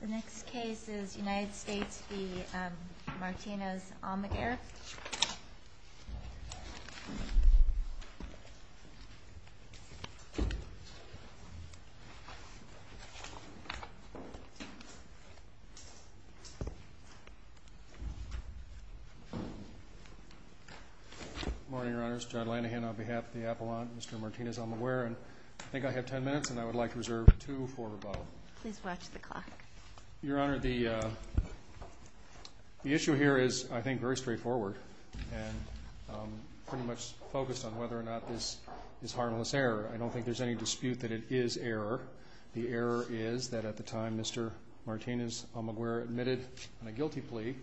The next case is United States v. Martinez-Almaguer. Good morning, Your Honors. Judd Lanahan on behalf of the Appellant and Mr. Martinez-Almaguer. I think I have ten minutes and I would like to reserve two for Bob. Please watch the clock. Your Honor, the issue here is, I think, very straightforward and pretty much focused on whether or not this is harmless error. I don't think there's any dispute that it is error. The error is that at the time Mr. Martinez-Almaguer admitted on a guilty plea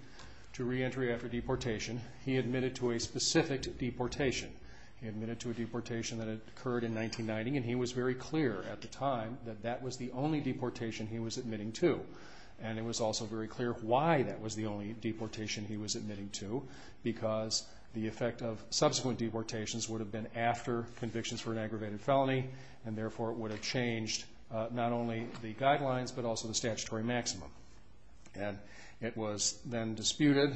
to reentry after deportation, he admitted to a specific deportation. He admitted to a deportation that occurred in 1990 and he was very clear at the time that that was the only deportation he was admitting to. And it was also very clear why that was the only deportation he was admitting to because the effect of subsequent deportations would have been after convictions for an aggravated felony and therefore it would have changed not only the guidelines but also the statutory maximum. And it was then disputed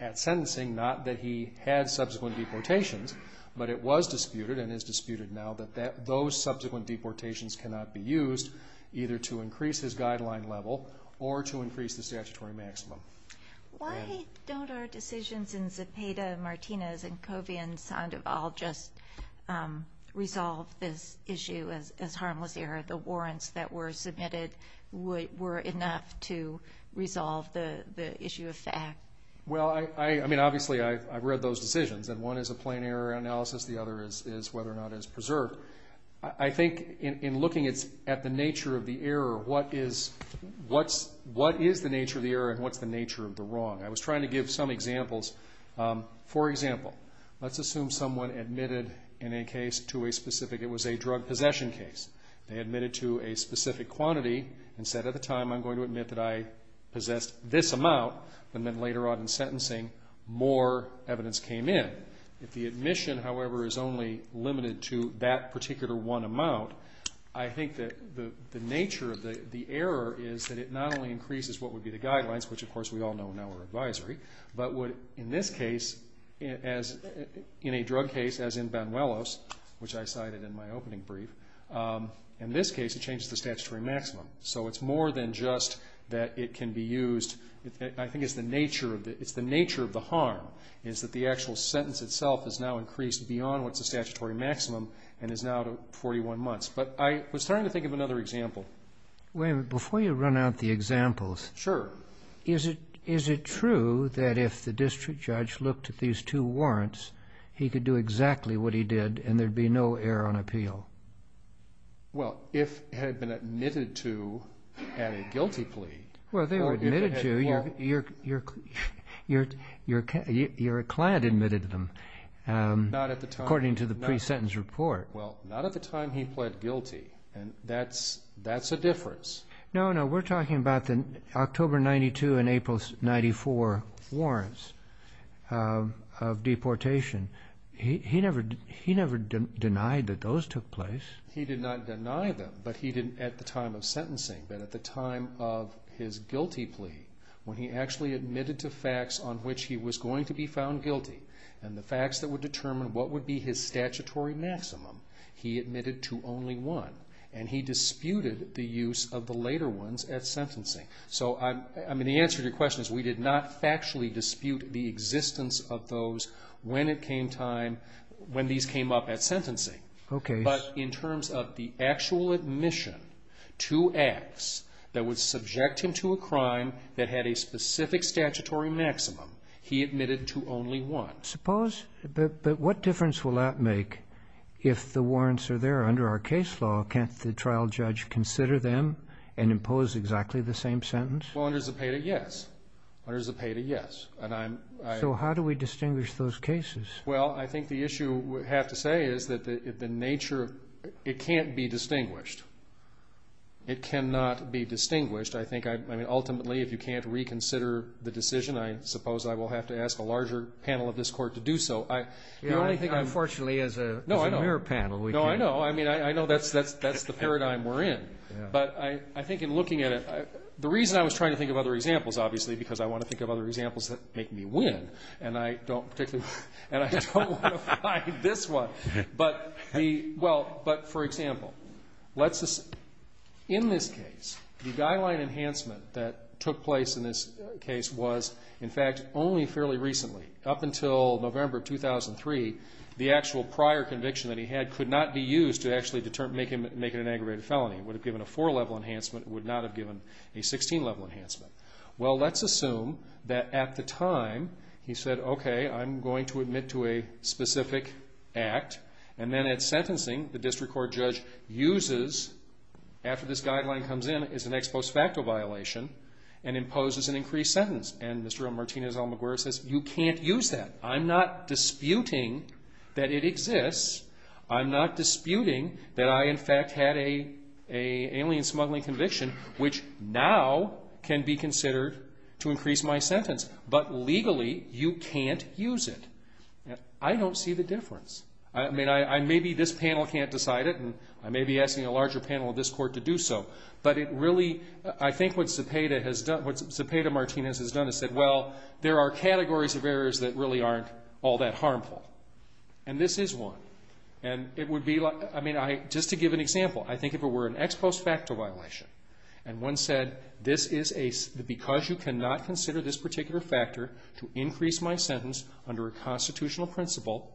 at sentencing, not that he had subsequent deportations, but it was disputed and is disputed now that those subsequent deportations cannot be used either to increase his guideline level or to increase the statutory maximum. Why don't our decisions in Zepeda, Martinez, and Covey and Sandoval just resolve this issue as harmless error? The warrants that were submitted were enough to resolve the issue of fact. Well, I mean obviously I've read those decisions and one is a plain error analysis, the other is whether or not it's preserved. I think in looking at the nature of the error, what is the nature of the error and what's the nature of the wrong? I was trying to give some examples. For example, let's assume someone admitted in a case to a specific, it was a drug possession case. They admitted to a specific quantity and said at the time I'm going to admit that I possessed this amount and then later on in sentencing more evidence came in. If the admission, however, is only limited to that particular one amount, I think that the nature of the error is that it not only increases what would be the guidelines, which of course we all know now are advisory, but would in this case as in a drug case as in Banuelos, which I cited in my opening brief, in this case it changes the statutory maximum. So it's more than just that it can be used. I think it's the nature of the harm is that the actual sentence itself is now increased beyond what's the statutory maximum and is now to 41 months. But I was trying to think of another example. Wait a minute. Before you run out the examples. Sure. Is it true that if the district judge looked at these two warrants, he could do exactly what he did and there'd be no error on appeal? Well, if it had been admitted to at a guilty plea. Well, they were admitted to. Your client admitted them according to the pre-sentence report. Well, not at the time he pled guilty. And that's a difference. No, no. We're talking about the October 92 and April 94 warrants of deportation. He never denied that those took place. He did not deny them at the time of sentencing, but at the time of his guilty plea when he actually admitted to facts on which he was going to be found guilty and the facts that would determine what would be his statutory maximum, he admitted to only one. And he disputed the use of the later ones at sentencing. So, I mean, the answer to your question is we did not factually dispute the existence of those when it came time, when these came up at sentencing. Okay. But in terms of the actual admission to acts that would subject him to a crime that had a specific statutory maximum, he admitted to only one. But what difference will that make if the warrants are there under our case law? Can't the trial judge consider them and impose exactly the same sentence? Well, under Zepeda, yes. Under Zepeda, yes. So how do we distinguish those cases? Well, I think the issue we have to say is that the nature of it can't be distinguished. It cannot be distinguished. I mean, ultimately, if you can't reconsider the decision, I suppose I will have to ask a larger panel of this court to do so. Unfortunately, as a mirror panel, we can't. No, I know. I mean, I know that's the paradigm we're in. But I think in looking at it, the reason I was trying to think of other examples, obviously, because I want to think of other examples that make me win, and I don't particularly want to find this one. But, for example, in this case, the guideline enhancement that took place in this case was, in fact, only fairly recently. Up until November of 2003, the actual prior conviction that he had could not be used to actually make it an aggravated felony. It would have given a four-level enhancement. It would not have given a 16-level enhancement. Well, let's assume that at the time he said, okay, I'm going to admit to a specific act, and then at sentencing, the district court judge uses, after this guideline comes in, it's an ex post facto violation, and imposes an increased sentence. And Mr. Martinez-Almaguer says, you can't use that. I'm not disputing that it exists. I'm not disputing that I, in fact, had an alien smuggling conviction, which now can be considered to increase my sentence. But legally, you can't use it. I don't see the difference. I mean, maybe this panel can't decide it, and I may be asking a larger panel of this court to do so. But it really, I think what Cepeda Martinez has done is said, well, there are categories of errors that really aren't all that harmful. And this is one. And it would be like, I mean, just to give an example, I think if it were an ex post facto violation, and one said, because you cannot consider this particular factor to increase my sentence under a constitutional principle,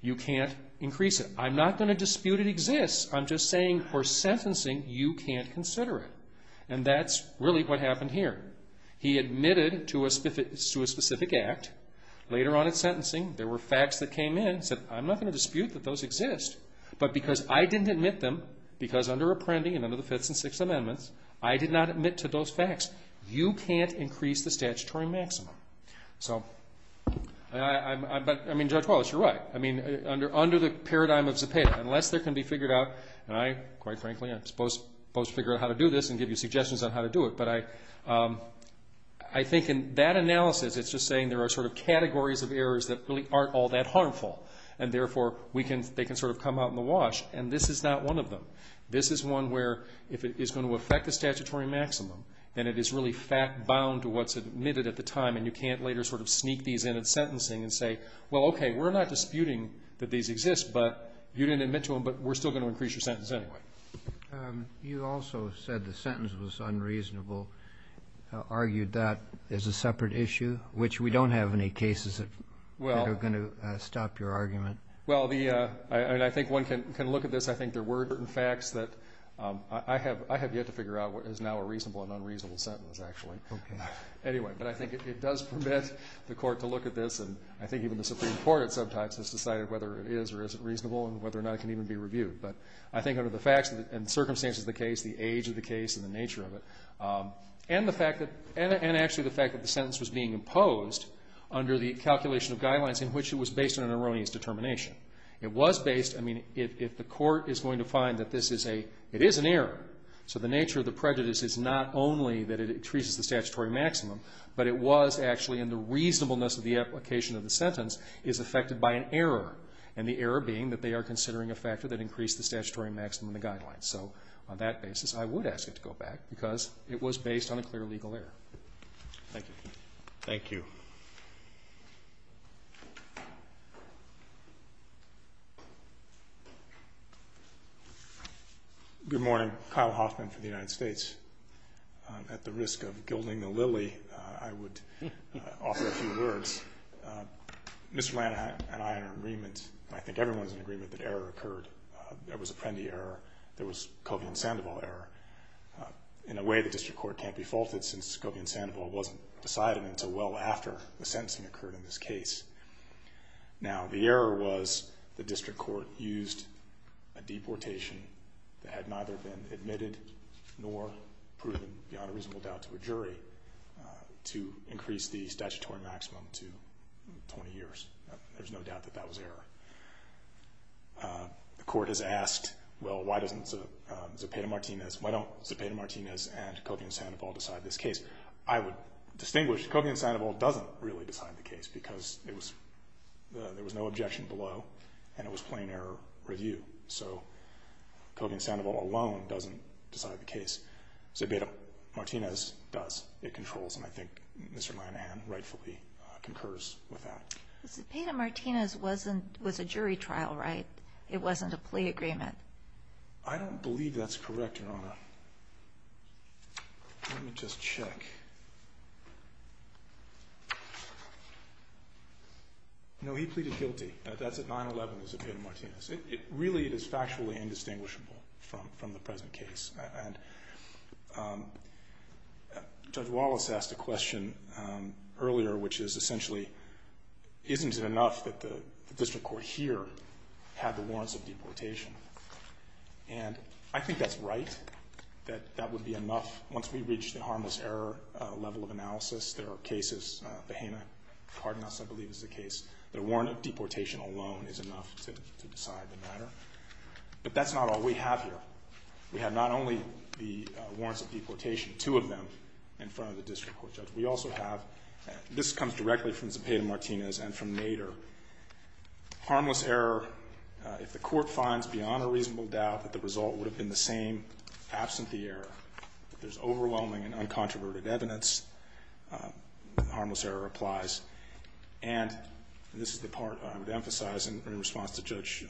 you can't increase it. I'm not going to dispute it exists. I'm just saying for sentencing, you can't consider it. And that's really what happened here. He admitted to a specific act. Later on in sentencing, there were facts that came in. He said, I'm not going to dispute that those exist. But because I didn't admit them, because under Apprendi and under the Fifth and Sixth Amendments, I did not admit to those facts. You can't increase the statutory maximum. So, I mean, Judge Wallace, you're right. I mean, under the paradigm of Cepeda, unless there can be figured out, and I, quite frankly, I'm supposed to figure out how to do this and give you suggestions on how to do it. But I think in that analysis, it's just saying there are sort of categories of errors that really aren't all that harmful. And therefore, they can sort of come out in the wash. And this is not one of them. This is one where if it is going to affect the statutory maximum, then it is really bound to what's admitted at the time, and you can't later sort of sneak these in at sentencing and say, well, okay, we're not disputing that these exist, but you didn't admit to them, but we're still going to increase your sentence anyway. You also said the sentence was unreasonable, argued that as a separate issue, which we don't have any cases that are going to stop your argument. Well, I think one can look at this. I think there were certain facts that I have yet to figure out what is now a reasonable and unreasonable sentence, actually. Anyway, but I think it does permit the court to look at this, and I think even the Supreme Court at some times has decided whether it is or isn't reasonable and whether or not it can even be reviewed. But I think under the facts and circumstances of the case, the age of the case, and the nature of it, and actually the fact that the sentence was being imposed under the calculation of guidelines in which it was based on an erroneous determination. It was based, I mean, if the court is going to find that this is a, it is an error, so the nature of the prejudice is not only that it increases the statutory maximum, but it was actually in the reasonableness of the application of the sentence, is affected by an error, and the error being that they are considering a factor that increased the statutory maximum in the guidelines. So on that basis, I would ask it to go back because it was based on a clear legal error. Thank you. Thank you. Good morning. Kyle Hoffman for the United States. At the risk of gilding the lily, I would offer a few words. Mr. Lanahan and I are in agreement, and I think everyone is in agreement, that error occurred. There was a Prendy error. There was a Colvian-Sandoval error. In a way, the district court can't be faulted since Colvian-Sandoval wasn't decided until well after the sentencing occurred in this case. Now, the error was the district court used a deportation that had neither been admitted nor proven beyond a reasonable doubt to a jury to increase the statutory maximum to 20 years. There's no doubt that that was error. The court has asked, well, why doesn't Zepeda-Martinez, why don't Zepeda-Martinez and Colvian-Sandoval decide this case? I would distinguish. Colvian-Sandoval doesn't really decide the case because there was no objection below, and it was plain error review. So Colvian-Sandoval alone doesn't decide the case. Zepeda-Martinez does. It controls, and I think Mr. Lanahan rightfully concurs with that. Zepeda-Martinez was a jury trial, right? It wasn't a plea agreement. I don't believe that's correct, Your Honor. Let me just check. No, he pleaded guilty. That's at 9-11, Zepeda-Martinez. Really, it is factually indistinguishable from the present case. And Judge Wallace asked a question earlier, which is essentially, isn't it enough that the district court here had the warrants of deportation? And I think that's right, that that would be enough. Once we reach the harmless error level of analysis, there are cases, the Hanna-Cardenas, I believe, is the case, that a warrant of deportation alone is enough to decide the matter. But that's not all we have here. We have not only the warrants of deportation, two of them, in front of the district court judge. We also have, this comes directly from Zepeda-Martinez and from Nader. Harmless error, if the court finds beyond a reasonable doubt that the result would have been the same, absent the error. If there's overwhelming and uncontroverted evidence, harmless error applies. And this is the part I would emphasize in response to Judge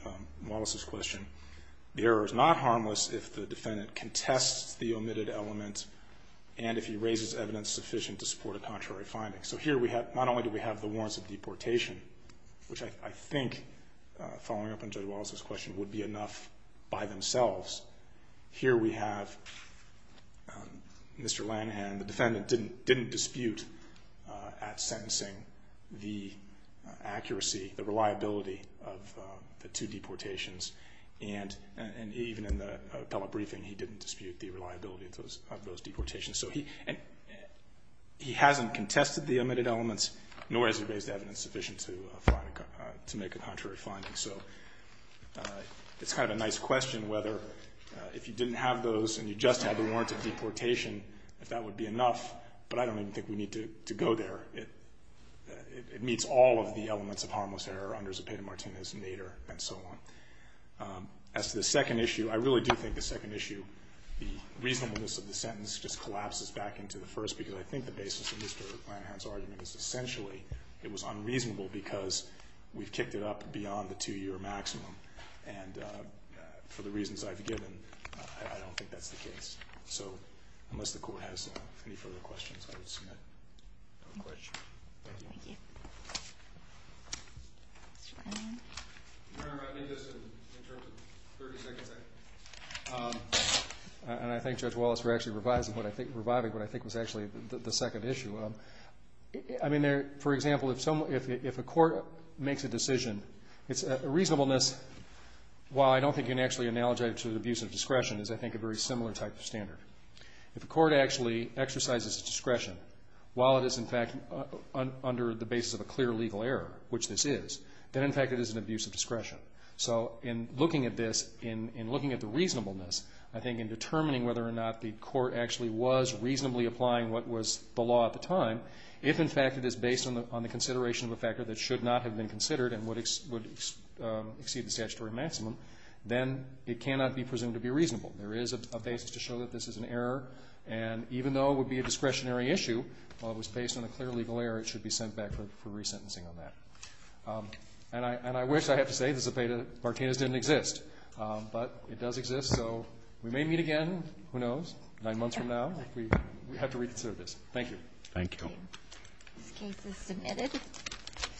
Wallace's question. The error is not harmless if the defendant contests the omitted element and if he raises evidence sufficient to support a contrary finding. So here we have, not only do we have the warrants of deportation, which I think, following up on Judge Wallace's question, would be enough by themselves. Here we have Mr. Lanahan, the defendant, didn't dispute at sentencing the accuracy, the reliability of the two deportations. And even in the appellate briefing, he didn't dispute the reliability of those deportations. So he hasn't contested the omitted elements, nor has he raised evidence sufficient to make a contrary finding. So it's kind of a nice question whether if you didn't have those and you just had the warrants of deportation, if that would be enough. But I don't even think we need to go there. It meets all of the elements of harmless error under Zepeda-Martinez, Nader, and so on. As to the second issue, I really do think the second issue, the reasonableness of the sentence just collapses back into the first because I think the basis of Mr. Lanahan's argument is essentially it was unreasonable because we've kicked it up beyond the two-year maximum. And for the reasons I've given, I don't think that's the case. So unless the Court has any further questions, I would submit no questions. Thank you. Thank you. Mr. Lanahan? No, I meant this in terms of 30 seconds. And I thank Judge Wallace for actually reviving what I think was actually the second issue. I mean, for example, if a court makes a decision, reasonableness, while I don't think you can actually analogize it to the abuse of discretion, is I think a very similar type of standard. If a court actually exercises discretion, while it is in fact under the basis of a clear legal error, which this is, then in fact it is an abuse of discretion. So in looking at this, in looking at the reasonableness, I think in determining whether or not the court actually was reasonably applying what was the law at the time, if in fact it is based on the consideration of a factor that should not have been considered and would exceed the statutory maximum, then it cannot be presumed to be reasonable. There is a basis to show that this is an error, and even though it would be a discretionary issue, while it was based on a clear legal error, it should be sent back for resentencing on that. And I wish I had to say this debate of Martinez didn't exist, but it does exist, so we may meet again, who knows, nine months from now if we have to reconsider this. Thank you. Thank you. This case is submitted.